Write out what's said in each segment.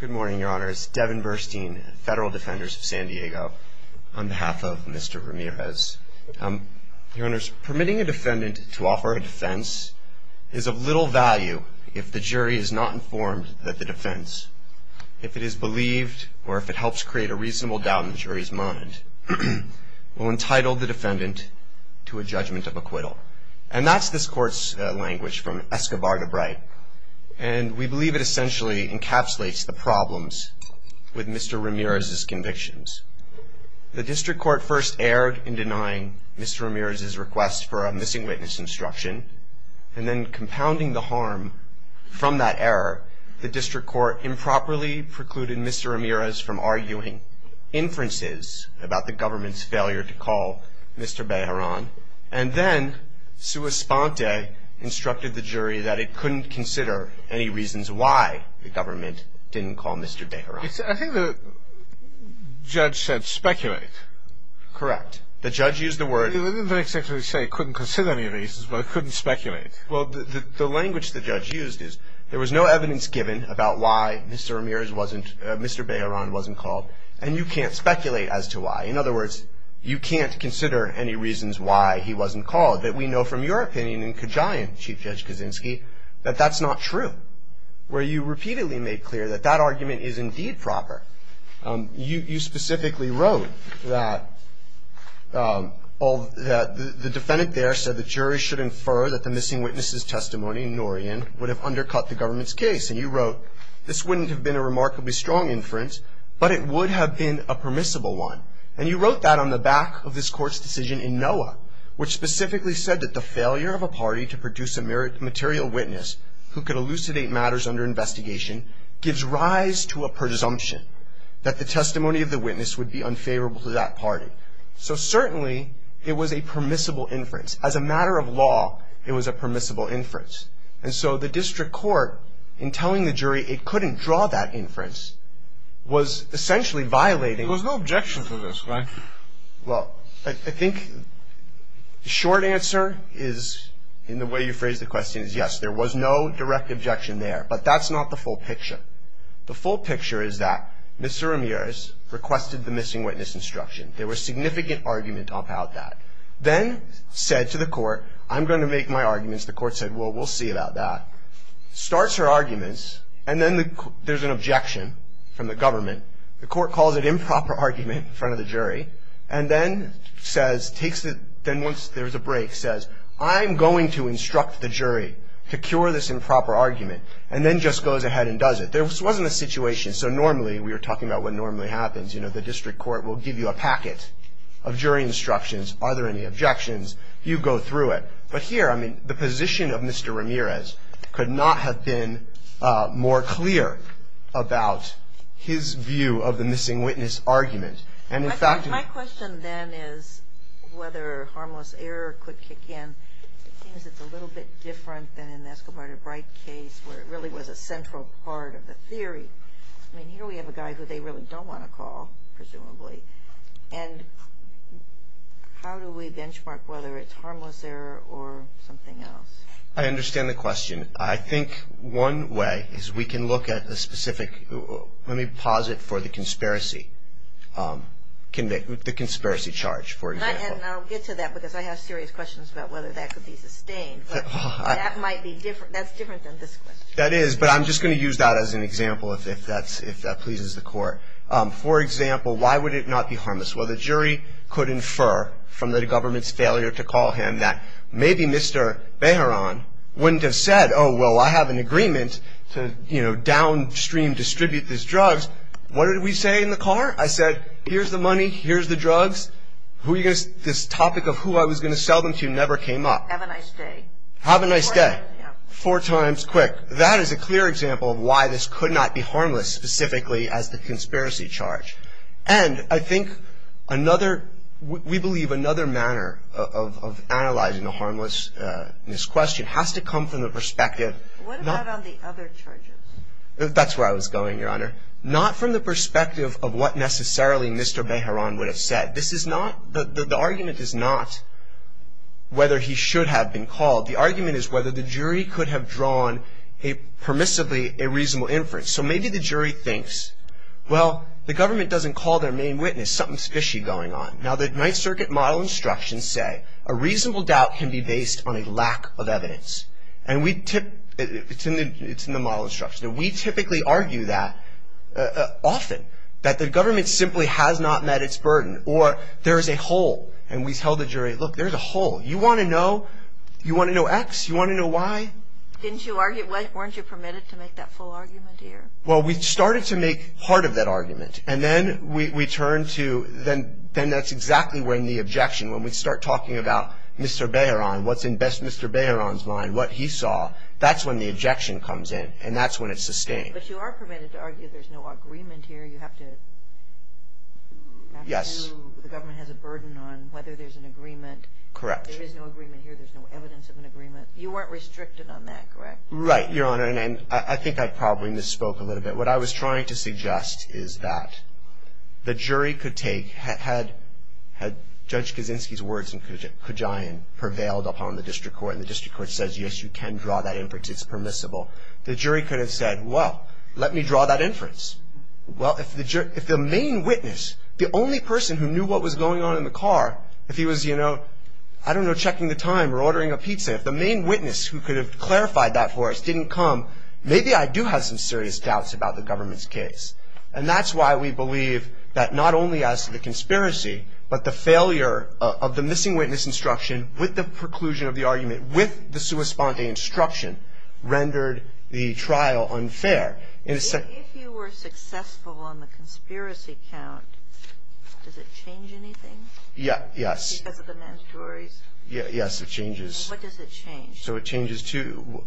Good morning, Your Honors. Devin Burstein, Federal Defenders of San Diego, on behalf of Mr. Ramirez. Your Honors, permitting a defendant to offer a defense is of little value if the jury is not informed that the defense, if it is believed or if it helps create a reasonable doubt in the jury's mind, will entitle the defendant to a judgment of acquittal. And that's this court's language from Escobar de Bright, and we believe it essentially encapsulates the problems with Mr. Ramirez's convictions. The district court first erred in denying Mr. Ramirez's request for a missing witness instruction, and then compounding the harm from that error, the district court improperly precluded Mr. Ramirez from arguing inferences about the government's failure to call Mr. Bejaran. And then sua sponte instructed the jury that it couldn't consider any reasons why the government didn't call Mr. Bejaran. I think the judge said speculate. Correct. The judge used the word... It didn't exactly say it couldn't consider any reasons, but it couldn't speculate. Well, the language the judge used is there was no evidence given about why Mr. Ramirez wasn't, Mr. Bejaran wasn't called, and you can't speculate as to why. In other words, you can't consider any reasons why he wasn't called. We know from your opinion in Kajian, Chief Judge Kaczynski, that that's not true, where you repeatedly made clear that that argument is indeed proper. You specifically wrote that the defendant there said the jury should infer that the missing witness's testimony, Norian, would have undercut the government's case. And you wrote, this wouldn't have been a remarkably strong inference, but it would have been a permissible one. And you wrote that on the back of this court's decision in NOAA, which specifically said that the failure of a party to produce a material witness who could elucidate matters under investigation gives rise to a presumption that the testimony of the witness would be unfavorable to that party. So certainly, it was a permissible inference. As a matter of law, it was a permissible inference. And so the district court, in telling the jury it couldn't draw that inference, was essentially violating. There was no objection to this, right? Well, I think the short answer is, in the way you phrased the question, is yes. There was no direct objection there. But that's not the full picture. The full picture is that Mr. Ramirez requested the missing witness instruction. There was significant argument about that. Then said to the court, I'm going to make my arguments. The court said, well, we'll see about that. Starts her arguments. And then there's an objection from the government. The court calls an improper argument in front of the jury. And then once there's a break, says, I'm going to instruct the jury to cure this improper argument. And then just goes ahead and does it. This wasn't a situation. So normally, we were talking about what normally happens. You know, the district court will give you a packet of jury instructions. Are there any objections? You go through it. But here, I mean, the position of Mr. Ramirez could not have been more clear about his view of the missing witness argument. And, in fact, My question then is whether harmless error could kick in. It seems it's a little bit different than in the Escobar to Bright case, where it really was a central part of the theory. I mean, here we have a guy who they really don't want to call, presumably. And how do we benchmark whether it's harmless error or something else? I understand the question. I think one way is we can look at the specific. Let me pause it for the conspiracy charge, for example. And I'll get to that because I have serious questions about whether that could be sustained. But that might be different. That's different than this question. That is. For example, why would it not be harmless? Well, the jury could infer from the government's failure to call him that maybe Mr. Bejaran wouldn't have said, Oh, well, I have an agreement to, you know, downstream distribute these drugs. What did we say in the car? I said, here's the money. Here's the drugs. This topic of who I was going to sell them to never came up. Have a nice day. Have a nice day. Four times quick. That is a clear example of why this could not be harmless specifically as the conspiracy charge. And I think another, we believe another manner of analyzing the harmlessness question has to come from the perspective. What about on the other charges? That's where I was going, Your Honor. Not from the perspective of what necessarily Mr. Bejaran would have said. This is not, the argument is not whether he should have been called. The argument is whether the jury could have drawn a permissibly a reasonable inference. So maybe the jury thinks, well, the government doesn't call their main witness. Something fishy going on. Now, the Ninth Circuit model instructions say a reasonable doubt can be based on a lack of evidence. And we tip, it's in the model instruction. And we typically argue that often, that the government simply has not met its burden or there is a hole. And we tell the jury, look, there's a hole. You want to know? You want to know X? You want to know Y? Didn't you argue, weren't you permitted to make that full argument here? Well, we started to make part of that argument. And then we turned to, then that's exactly when the objection, when we start talking about Mr. Bejaran, what's in Mr. Bejaran's mind, what he saw, that's when the objection comes in. And that's when it's sustained. But you are permitted to argue there's no agreement here. You have to, the government has a burden on whether there's an agreement. Correct. There is no agreement here. There's no evidence of an agreement. You weren't restricted on that, correct? Right, Your Honor. And I think I probably misspoke a little bit. What I was trying to suggest is that the jury could take, had Judge Kaczynski's words in Kujain prevailed upon the district court and the district court says, yes, you can draw that inference, it's permissible, the jury could have said, well, let me draw that inference. Well, if the main witness, the only person who knew what was going on in the car, if he was, you know, I don't know, checking the time or ordering a pizza, if the main witness who could have clarified that for us didn't come, maybe I do have some serious doubts about the government's case. And that's why we believe that not only as to the conspiracy, but the failure of the missing witness instruction with the preclusion of the argument, with the sua sponte instruction, rendered the trial unfair. If you were successful on the conspiracy count, does it change anything? Yes. Because of the mandatories? Yes, it changes. What does it change? So it changes to,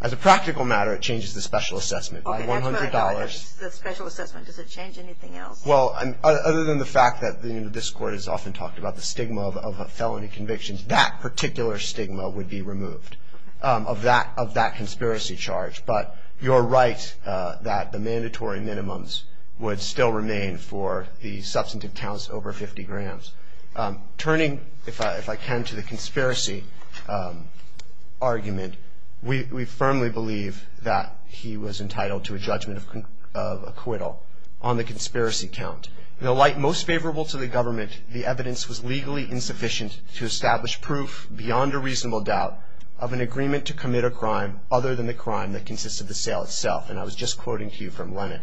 as a practical matter, it changes the special assessment by $100. The special assessment, does it change anything else? Well, other than the fact that this court has often talked about the stigma of a felony conviction, that particular stigma would be removed of that conspiracy charge. But you're right that the mandatory minimums would still remain for the substantive counts over 50 grams. Turning, if I can, to the conspiracy argument, we firmly believe that he was entitled to a judgment of acquittal on the conspiracy count. In a light most favorable to the government, the evidence was legally insufficient to establish proof, beyond a reasonable doubt, of an agreement to commit a crime other than the crime that consisted of the sale itself. And I was just quoting to you from Lennox.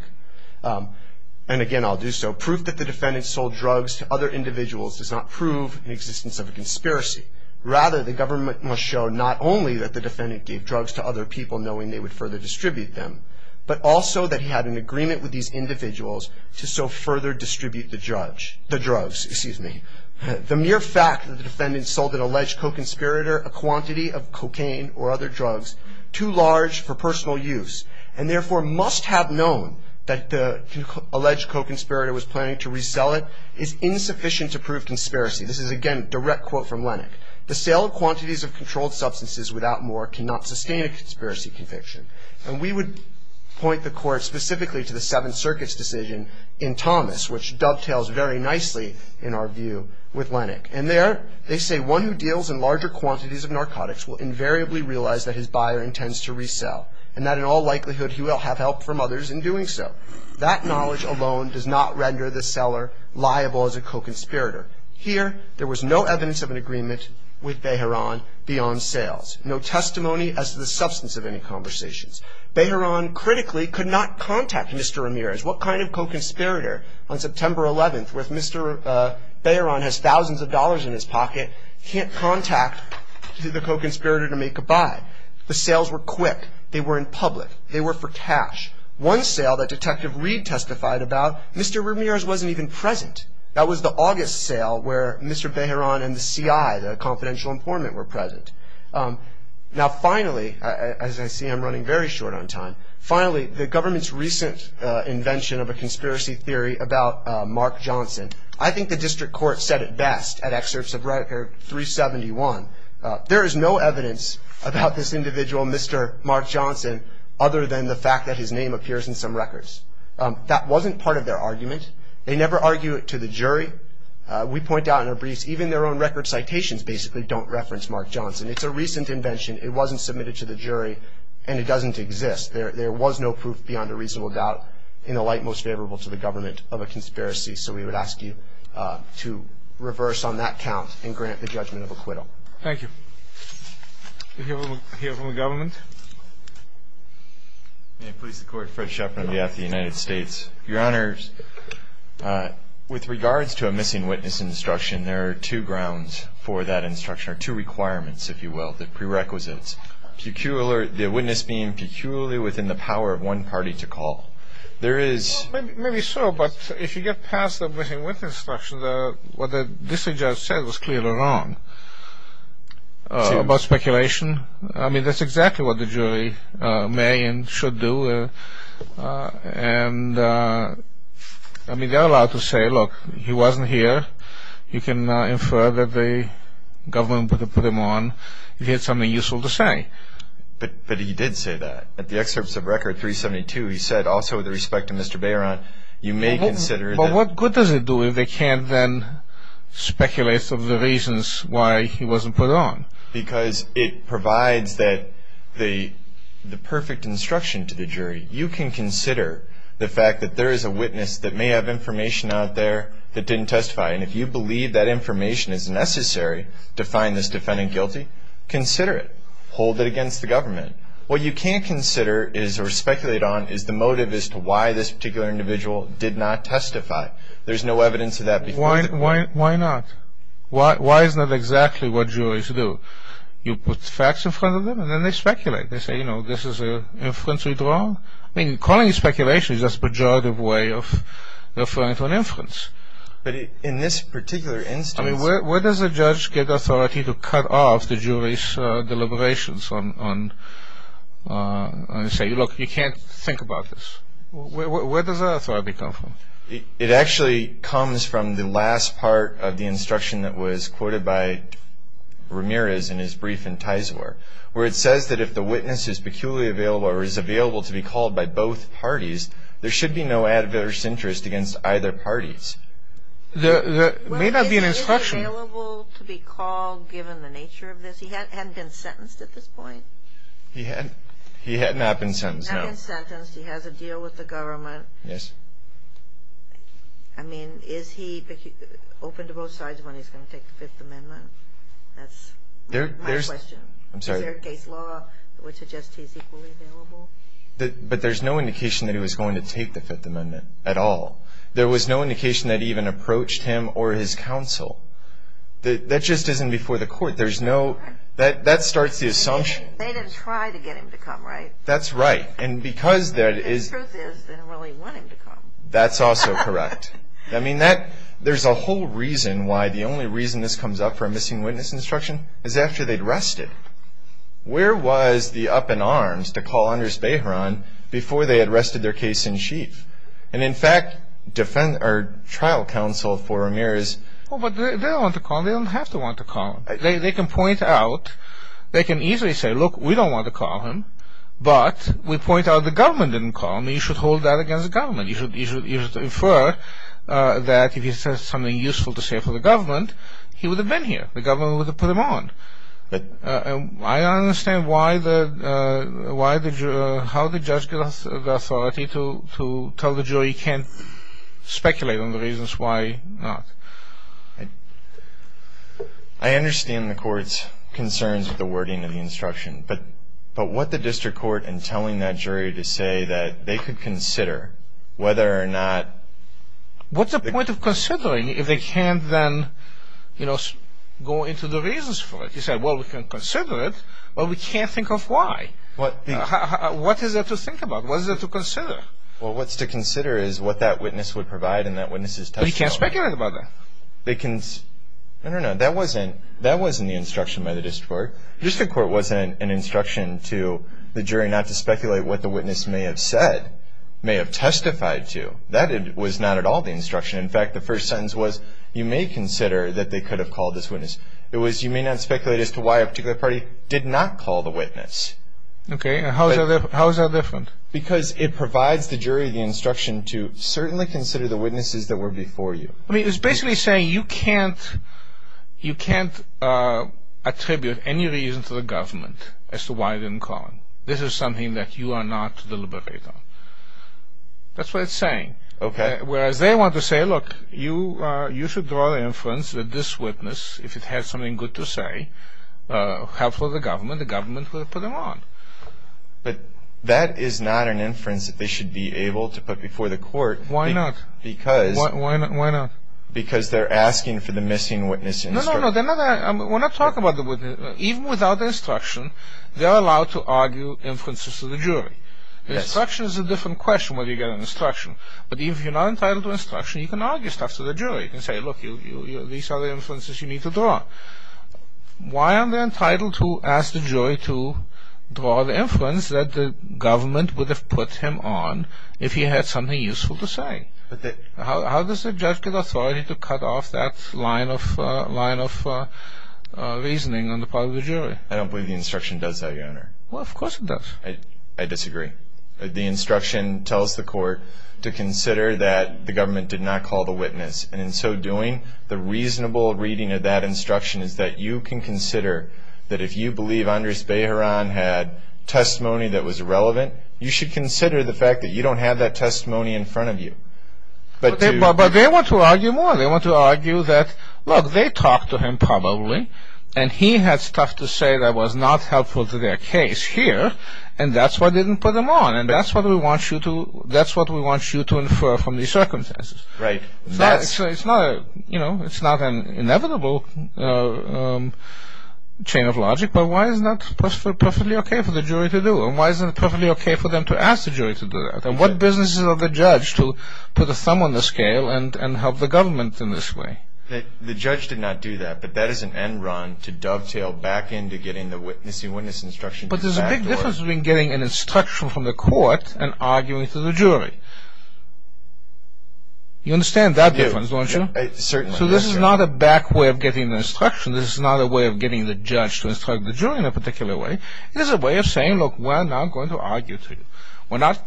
And again, I'll do so. Proof that the defendant sold drugs to other individuals does not prove the existence of a conspiracy. Rather, the government must show not only that the defendant gave drugs to other people, knowing they would further distribute them, but also that he had an agreement with these individuals to so further distribute the drugs. The mere fact that the defendant sold an alleged co-conspirator a quantity of cocaine or other drugs, too large for personal use, and therefore must have known that the alleged co-conspirator was planning to resell it, is insufficient to prove conspiracy. This is, again, a direct quote from Lennox. The sale of quantities of controlled substances without more cannot sustain a conspiracy conviction. And we would point the court specifically to the Seventh Circuit's decision in Thomas, which dovetails very nicely, in our view, with Lennox. And there, they say, The one who deals in larger quantities of narcotics will invariably realize that his buyer intends to resell and that in all likelihood he will have help from others in doing so. That knowledge alone does not render the seller liable as a co-conspirator. Here, there was no evidence of an agreement with Behran beyond sales. No testimony as to the substance of any conversations. Behran critically could not contact Mr. Ramirez. What kind of co-conspirator on September 11th, Mr. Behran has thousands of dollars in his pocket, can't contact the co-conspirator to make a buy. The sales were quick. They were in public. They were for cash. One sale that Detective Reed testified about, Mr. Ramirez wasn't even present. That was the August sale where Mr. Behran and the CI, the confidential informant, were present. Now, finally, as I see I'm running very short on time, finally, the government's recent invention of a conspiracy theory about Mark Johnson. I think the district court said it best at excerpts of Record 371. There is no evidence about this individual, Mr. Mark Johnson, other than the fact that his name appears in some records. That wasn't part of their argument. They never argue it to the jury. We point out in our briefs even their own record citations basically don't reference Mark Johnson. It's a recent invention. It wasn't submitted to the jury, and it doesn't exist. There was no proof beyond a reasonable doubt in the light most favorable to the government of a conspiracy. So we would ask you to reverse on that count and grant the judgment of acquittal. Thank you. We'll hear from the government. May it please the Court. Fred Schaffer on behalf of the United States. Your Honors, with regards to a missing witness instruction, there are two grounds for that instruction or two requirements, if you will, the prerequisites. The witness being peculiarly within the power of one party to call. Maybe so, but if you get past the missing witness instruction, what the district judge said was clearly wrong about speculation. I mean, that's exactly what the jury may and should do. I mean, they're allowed to say, look, he wasn't here. You can infer that the government would have put him on if he had something useful to say. But he did say that. At the excerpts of Record 372, he said, also with respect to Mr. Bayron, you may consider that. But what good does it do if they can't then speculate some of the reasons why he wasn't put on? You can consider the fact that there is a witness that may have information out there that didn't testify. And if you believe that information is necessary to find this defendant guilty, consider it. Hold it against the government. What you can't consider is or speculate on is the motive as to why this particular individual did not testify. There's no evidence of that before. Why not? Why is that exactly what juries do? You put facts in front of them, and then they speculate. They say, you know, this is an inference we draw. I mean, calling it speculation is just a pejorative way of referring to an inference. But in this particular instance... I mean, where does a judge get authority to cut off the jury's deliberations and say, look, you can't think about this? Where does that authority come from? It actually comes from the last part of the instruction that was quoted by Ramirez in his brief in Tizor, where it says that if the witness is peculiarly available or is available to be called by both parties, there should be no adverse interest against either parties. There may not be an instruction... Is he available to be called given the nature of this? He hadn't been sentenced at this point. He had not been sentenced, no. He hasn't been sentenced. He has a deal with the government. Yes. I mean, is he open to both sides when he's going to take the Fifth Amendment? That's my question. Is there a case law which suggests he's equally available? But there's no indication that he was going to take the Fifth Amendment at all. There was no indication that he even approached him or his counsel. That just isn't before the court. There's no... That starts the assumption. They didn't try to get him to come, right? That's right. And because that is... The truth is they didn't really want him to come. That's also correct. I mean, that... There's a whole reason why the only reason this comes up for a missing witness instruction is after they'd rested. Where was the up in arms to call Anders Behran before they had rested their case in chief? And, in fact, defend... Our trial counsel for Amir is... Well, but they don't want to call him. They don't have to want to call him. They can point out... They can easily say, look, we don't want to call him. But we point out the government didn't call him. He should hold that against the government. He should infer that if he says something useful to say for the government, he would have been here. The government would have put him on. I don't understand why the... How the judge gets the authority to tell the jury he can't speculate on the reasons why not. I understand the court's concerns with the wording of the instruction. But what the district court in telling that jury to say that they could consider whether or not... What's the point of considering if they can't then, you know, go into the reasons for it? You say, well, we can consider it, but we can't think of why. What is there to think about? What is there to consider? Well, what's to consider is what that witness would provide and that witness's testimony. But he can't speculate about that. They can... I don't know. That wasn't the instruction by the district court. The district court wasn't an instruction to the jury not to speculate what the witness may have said, may have testified to. That was not at all the instruction. In fact, the first sentence was, you may consider that they could have called this witness. It was, you may not speculate as to why a particular party did not call the witness. Okay. How is that different? Because it provides the jury the instruction to certainly consider the witnesses that were before you. I mean, it's basically saying you can't attribute any reason to the government as to why they didn't call him. This is something that you are not to deliberate on. That's what it's saying. Okay. Whereas they want to say, look, you should draw the inference that this witness, if it had something good to say, helpful to the government, the government would have put him on. But that is not an inference that they should be able to put before the court. Why not? Because. Why not? Because they're asking for the missing witness instruction. No, no, no. We're not talking about the witness. Even without the instruction, they're allowed to argue inferences to the jury. The instruction is a different question when you get an instruction. But even if you're not entitled to instruction, you can argue stuff to the jury. You can say, look, these are the inferences you need to draw. Why aren't they entitled to ask the jury to draw the inference that the government would have put him on if he had something useful to say? How does the judge get authority to cut off that line of reasoning on the part of the jury? I don't believe the instruction does that, Your Honor. Well, of course it does. I disagree. The instruction tells the court to consider that the government did not call the witness. And in so doing, the reasonable reading of that instruction is that you can consider that if you believe Andres Bejaran had testimony that was irrelevant, you should consider the fact that you don't have that testimony in front of you. But they want to argue more. They want to argue that, look, they talked to him probably, and he had stuff to say that was not helpful to their case here, and that's why they didn't put him on, and that's what we want you to infer from these circumstances. Right. It's not an inevitable chain of logic, but why is that perfectly okay for the jury to do? And why is it perfectly okay for them to ask the jury to do that? And what business is it of the judge to put a thumb on the scale and help the government in this way? The judge did not do that, but that is an end run to dovetail back into getting the witnessing witness instruction to the back door. But there's a big difference between getting an instruction from the court and arguing to the jury. You understand that difference, don't you? Certainly. So this is not a back way of getting the instruction. This is not a way of getting the judge to instruct the jury in a particular way. It is a way of saying, look, we're not going to argue to you. We're not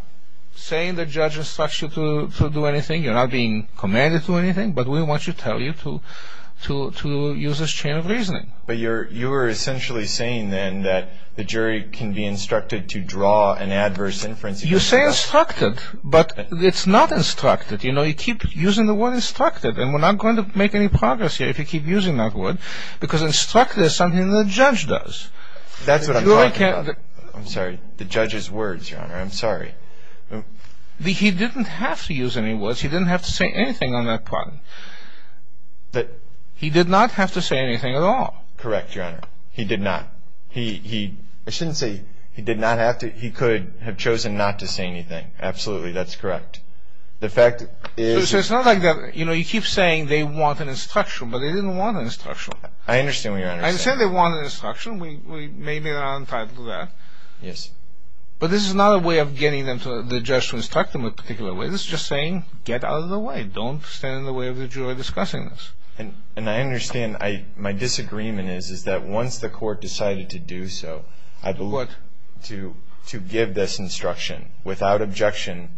saying the judge instructs you to do anything. You're not being commanded to do anything, but we want to tell you to use this chain of reasoning. But you were essentially saying then that the jury can be instructed to draw an adverse inference. You say instructed, but it's not instructed. You know, you keep using the word instructed, and we're not going to make any progress here if you keep using that word, because instructed is something the judge does. That's what I'm talking about. I'm sorry. The judge's words, Your Honor. I'm sorry. He didn't have to use any words. He didn't have to say anything on that part. He did not have to say anything at all. Correct, Your Honor. He did not. I shouldn't say he did not have to. He could have chosen not to say anything. Absolutely, that's correct. So it's not like that. You know, you keep saying they want an instruction, but they didn't want an instruction. I understand what Your Honor is saying. I understand they want an instruction. Maybe they're not entitled to that. Yes. But this is not a way of getting the judge to instruct them in a particular way. This is just saying get out of the way. Don't stand in the way of the jury discussing this. And I understand my disagreement is that once the court decided to do so, I believe to give this instruction without objection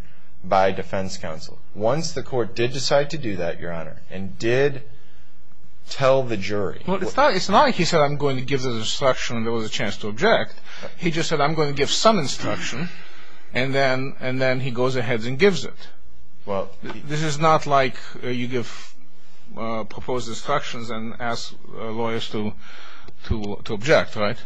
by defense counsel. Well, it's not like he said I'm going to give this instruction and there was a chance to object. He just said I'm going to give some instruction, and then he goes ahead and gives it. This is not like you give proposed instructions and ask lawyers to object, right?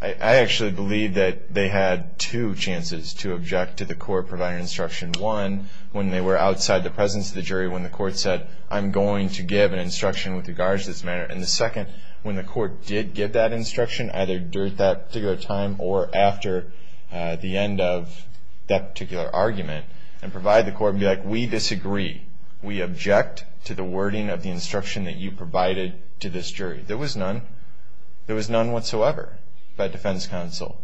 I actually believe that they had two chances to object to the court providing instruction. One, when they were outside the presence of the jury when the court said, I'm going to give an instruction with regards to this matter. And the second, when the court did give that instruction either during that particular time or after the end of that particular argument and provide the court and be like, we disagree. We object to the wording of the instruction that you provided to this jury. There was none. There was none whatsoever by defense counsel.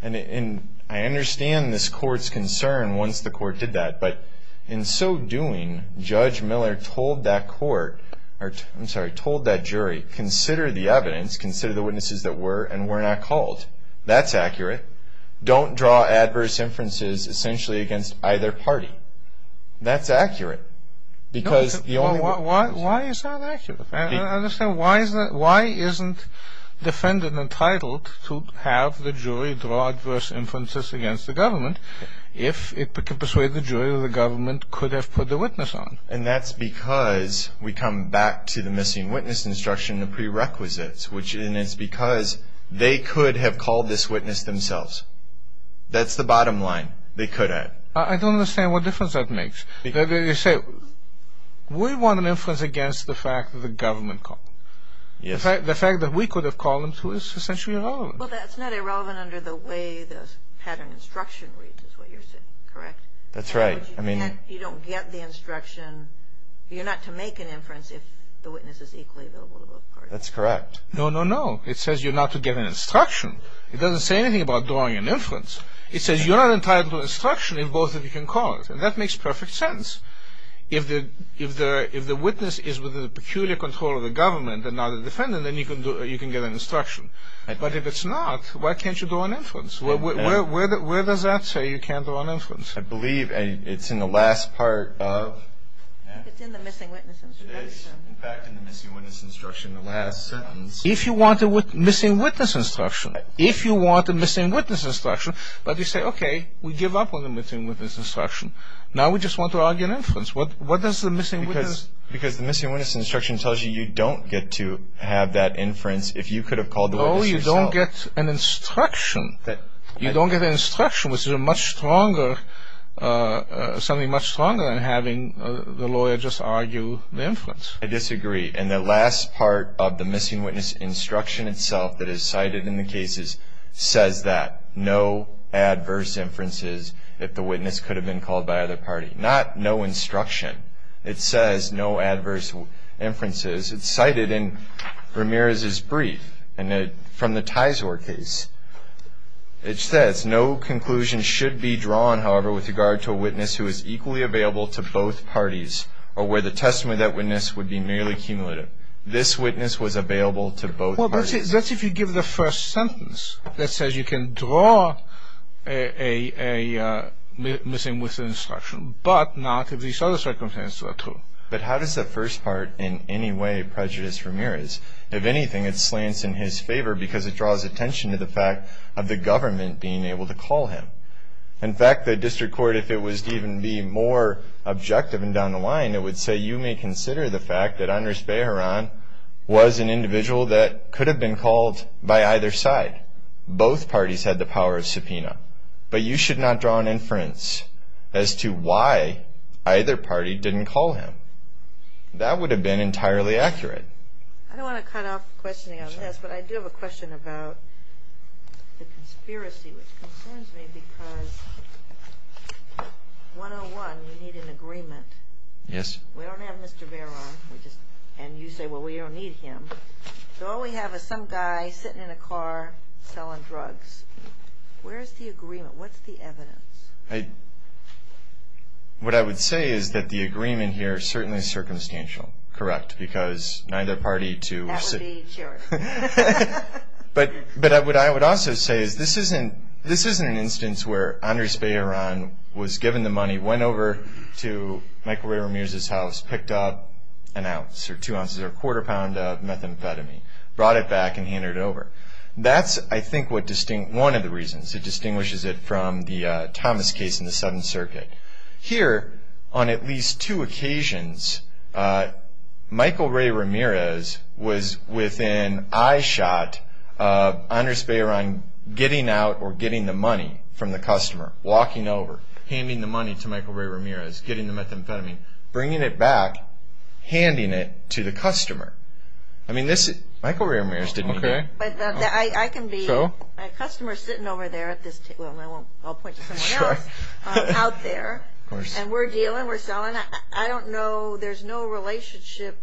And I understand this court's concern once the court did that. But in so doing, Judge Miller told that court or I'm sorry, told that jury, consider the evidence, consider the witnesses that were and were not called. That's accurate. Don't draw adverse inferences essentially against either party. That's accurate. Why is that accurate? Why isn't the defendant entitled to have the jury draw adverse inferences against the government if it could persuade the jury that the government could have put the witness on? And that's because we come back to the missing witness instruction, the prerequisites, which is because they could have called this witness themselves. That's the bottom line. They could have. I don't understand what difference that makes. You say we want an inference against the fact that the government called them. Yes. The fact that we could have called them too is essentially irrelevant. Well, that's not irrelevant under the way the pattern instruction reads is what you're saying, correct? That's right. You don't get the instruction. You're not to make an inference if the witness is equally available to both parties. That's correct. No, no, no. It says you're not to give an instruction. It doesn't say anything about drawing an inference. It says you're not entitled to instruction if both of you can call it. And that makes perfect sense. If the witness is within the peculiar control of the government and not the defendant, then you can get an instruction. But if it's not, why can't you draw an inference? Where does that say you can't draw an inference? I believe it's in the last part of the missing witness instruction. It is. In fact, in the missing witness instruction, the last sentence. If you want a missing witness instruction, if you want a missing witness instruction, but you say, okay, we give up on the missing witness instruction. Now we just want to argue an inference. What does the missing witness? Because the missing witness instruction tells you you don't get to have that inference if you could have called the witness yourself. No, you don't get an instruction. You don't get an instruction, which is something much stronger than having the lawyer just argue the inference. I disagree. And the last part of the missing witness instruction itself that is cited in the cases says that. No adverse inferences if the witness could have been called by other party. Not no instruction. It says no adverse inferences. It's cited in Ramirez's brief from the Tizor case. It says no conclusion should be drawn, however, with regard to a witness who is equally available to both parties or where the testimony of that witness would be merely cumulative. This witness was available to both parties. Well, that's if you give the first sentence that says you can draw a missing witness instruction, but not if these other circumstances are true. But how does the first part in any way prejudice Ramirez? If anything, it slants in his favor because it draws attention to the fact of the government being able to call him. In fact, the district court, if it was to even be more objective and down the line, it would say you may consider the fact that Andres Bejaran was an individual that could have been called by either side. Both parties had the power of subpoena. But you should not draw an inference as to why either party didn't call him. That would have been entirely accurate. I don't want to cut off questioning on this, but I do have a question about the conspiracy, which concerns me because 101, you need an agreement. Yes. We don't have Mr. Bejaran. And you say, well, we don't need him. So all we have is some guy sitting in a car selling drugs. Where is the agreement? What's the evidence? What I would say is that the agreement here is certainly circumstantial. Correct? Because neither party to- That would be insurance. But what I would also say is this isn't an instance where Andres Bejaran was given the money, went over to Michael Ray Ramirez's house, picked up an ounce or two ounces or a quarter pound of methamphetamine, brought it back, and handed it over. That's, I think, one of the reasons. It distinguishes it from the Thomas case in the Seventh Circuit. Here, on at least two occasions, Michael Ray Ramirez was within eyeshot of Andres Bejaran getting out or getting the money from the customer, walking over, handing the money to Michael Ray Ramirez, getting the methamphetamine, bringing it back, handing it to the customer. Michael Ray Ramirez didn't do that. I can be a customer sitting over there at this table, and I'll point to someone else, out there, and we're dealing, we're selling. I don't know. There's no relationship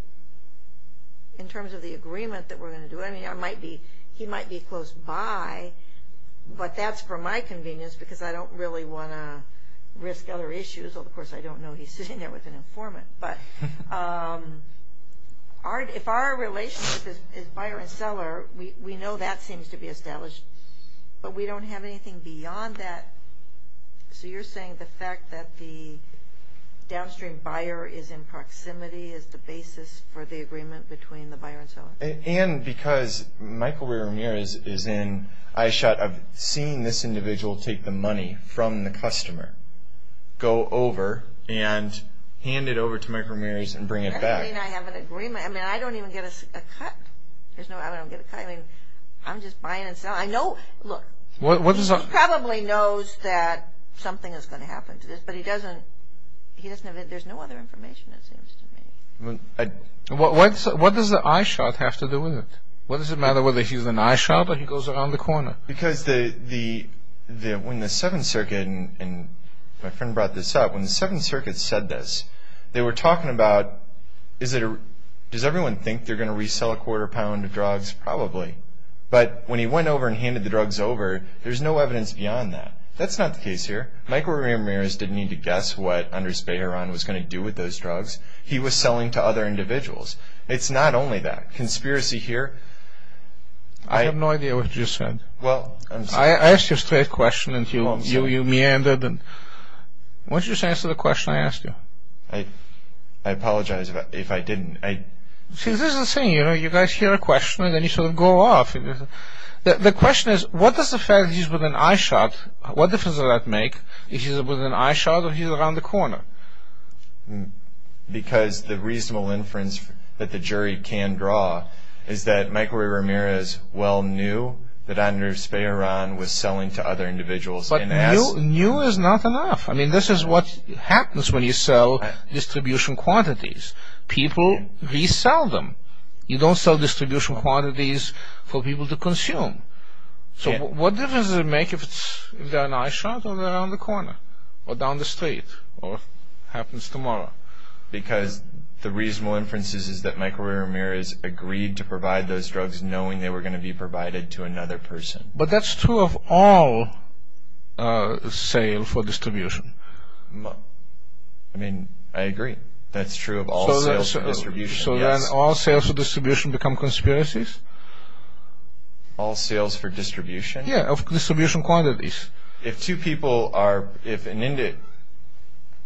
in terms of the agreement that we're going to do. I mean, he might be close by, but that's for my convenience because I don't really want to risk other issues. Of course, I don't know he's sitting there with an informant. But if our relationship is buyer and seller, we know that seems to be established, but we don't have anything beyond that. So you're saying the fact that the downstream buyer is in proximity is the basis for the agreement between the buyer and seller? And because Michael Ray Ramirez is in eyeshot of seeing this individual take the money from the customer, go over and hand it over to Michael Ramirez and bring it back. I mean, I have an agreement. I mean, I don't even get a cut. I don't get a cut. I mean, I'm just buying and selling. I know, look, he probably knows that something is going to happen to this, but he doesn't, there's no other information, it seems to me. What does the eyeshot have to do with it? What does it matter whether he's an eyeshot or he goes around the corner? Because when the Seventh Circuit, and my friend brought this up, when the Seventh Circuit said this, they were talking about, does everyone think they're going to resell a quarter pound of drugs? Probably. But when he went over and handed the drugs over, there's no evidence beyond that. That's not the case here. Michael Ramirez didn't need to guess what Andres Bayeron was going to do with those drugs. He was selling to other individuals. It's not only that. Conspiracy here. I have no idea what you just said. I asked you a straight question and you meandered. Why don't you just answer the question I asked you? I apologize if I didn't. See, this is the thing. You guys hear a question and then you sort of go off. The question is, what does the fact that he's with an eyeshot, what difference does that make if he's with an eyeshot or he's around the corner? Because the reasonable inference that the jury can draw is that Michael Ramirez well knew that Andres Bayeron was selling to other individuals. But knew is not enough. I mean, this is what happens when you sell distribution quantities. People resell them. You don't sell distribution quantities for people to consume. So what difference does it make if they're an eyeshot or they're around the corner or down the street or happens tomorrow? Because the reasonable inference is that Michael Ramirez agreed to provide those drugs knowing they were going to be provided to another person. But that's true of all sales for distribution. I mean, I agree. That's true of all sales for distribution. So then all sales for distribution become conspiracies? All sales for distribution? Yeah, of distribution quantities. If two people are, if an indi-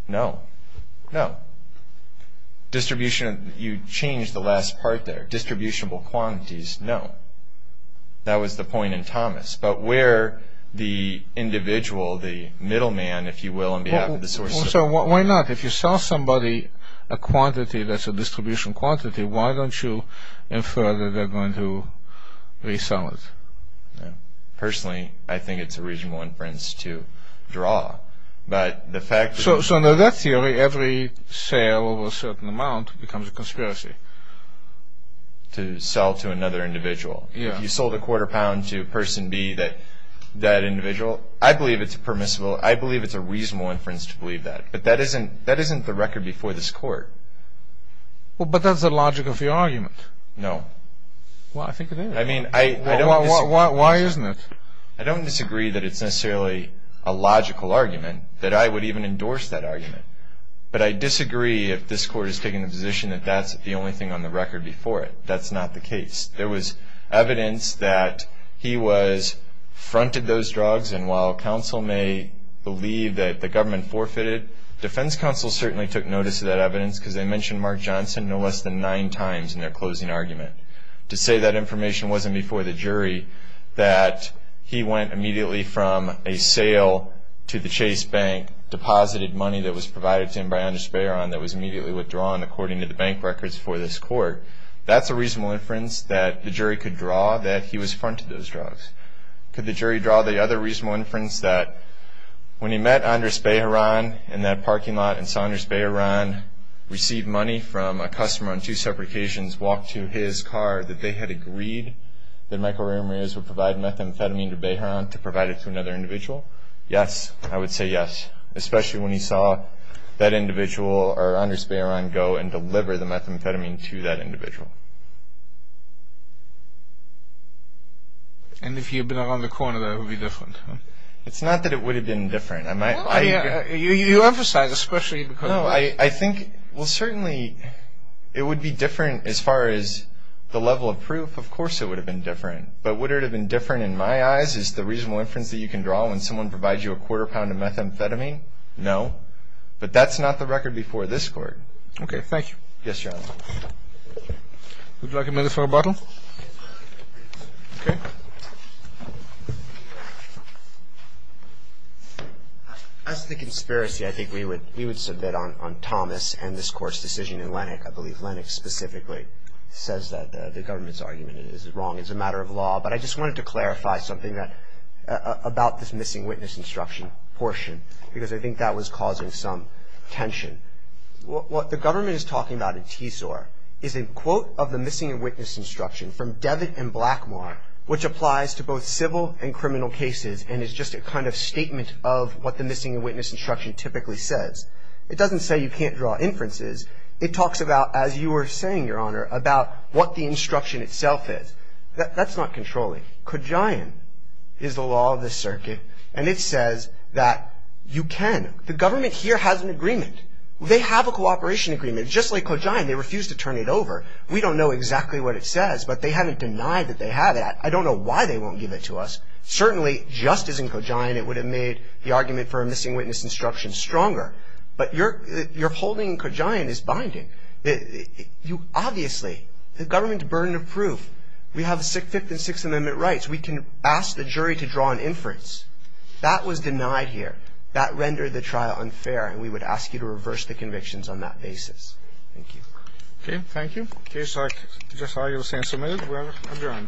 No, no. Distribution, you change the last part there. Distributable quantities, no. That was the point in Thomas. But where the individual, the middleman, if you will, on behalf of the source of- So why not? If you sell somebody a quantity that's a distribution quantity, why don't you infer that they're going to resell it? Personally, I think it's a reasonable inference to draw. But the fact- So under that theory, every sale over a certain amount becomes a conspiracy. To sell to another individual. If you sold a quarter pound to person B, that individual, I believe it's permissible. I believe it's a reasonable inference to believe that. But that isn't the record before this court. But that's the logic of your argument. No. Well, I think it is. I mean, I don't- Why isn't it? I don't disagree that it's necessarily a logical argument, that I would even endorse that argument. But I disagree if this court is taking the position that that's the only thing on the record before it. That's not the case. There was evidence that he was, fronted those drugs. And while counsel may believe that the government forfeited, defense counsel certainly took notice of that evidence because they mentioned Mark Johnson no less than nine times in their closing argument. To say that information wasn't before the jury, that he went immediately from a sale to the Chase Bank, deposited money that was provided to him by Andres Bejaran that was immediately withdrawn, according to the bank records for this court, that's a reasonable inference that the jury could draw that he was fronted those drugs. Could the jury draw the other reasonable inference that when he met Andres Bejaran in that parking lot and saw Andres Bejaran receive money from a customer on two separate occasions, walk to his car that they had agreed that Michael Ramirez would provide methamphetamine to Bejaran to provide it to another individual? Yes. I would say yes. Especially when he saw that individual, or Andres Bejaran, go and deliver the methamphetamine to that individual. And if he had been around the corner, that would be different. It's not that it would have been different. You emphasize especially because... No. I think, well, certainly it would be different as far as the level of proof. Of course it would have been different. But would it have been different in my eyes is the reasonable inference that you can draw when someone provides you a quarter pound of methamphetamine? No. But that's not the record before this court. Okay. Thank you. Yes, Your Honor. Would you like a minute for a bottle? Okay. As to the conspiracy, I think we would submit on Thomas and this Court's decision in Lennox. I believe Lennox specifically says that the government's argument is wrong. It's a matter of law. But I just wanted to clarify something about this missing witness instruction portion because I think that was causing some tension. What the government is talking about in TSOR is a quote of the missing witness instruction from Devitt and Blackmore, which applies to both civil and criminal cases and is just a kind of statement of what the missing witness instruction typically says. It doesn't say you can't draw inferences. It talks about, as you were saying, Your Honor, about what the instruction itself is. That's not controlling. Qajayan is the law of the circuit, and it says that you can. The government here has an agreement. They have a cooperation agreement. Just like Qajayan, they refuse to turn it over. We don't know exactly what it says, but they haven't denied that they have it. I don't know why they won't give it to us. Certainly, just as in Qajayan, it would have made the argument for a missing witness instruction stronger. But your holding in Qajayan is binding. Obviously, the government's burden of proof. We have the Fifth and Sixth Amendment rights. We can ask the jury to draw an inference. That was denied here. That rendered the trial unfair, and we would ask you to reverse the convictions on that basis. Thank you. Okay. Thank you. The case is submitted. We are adjourned.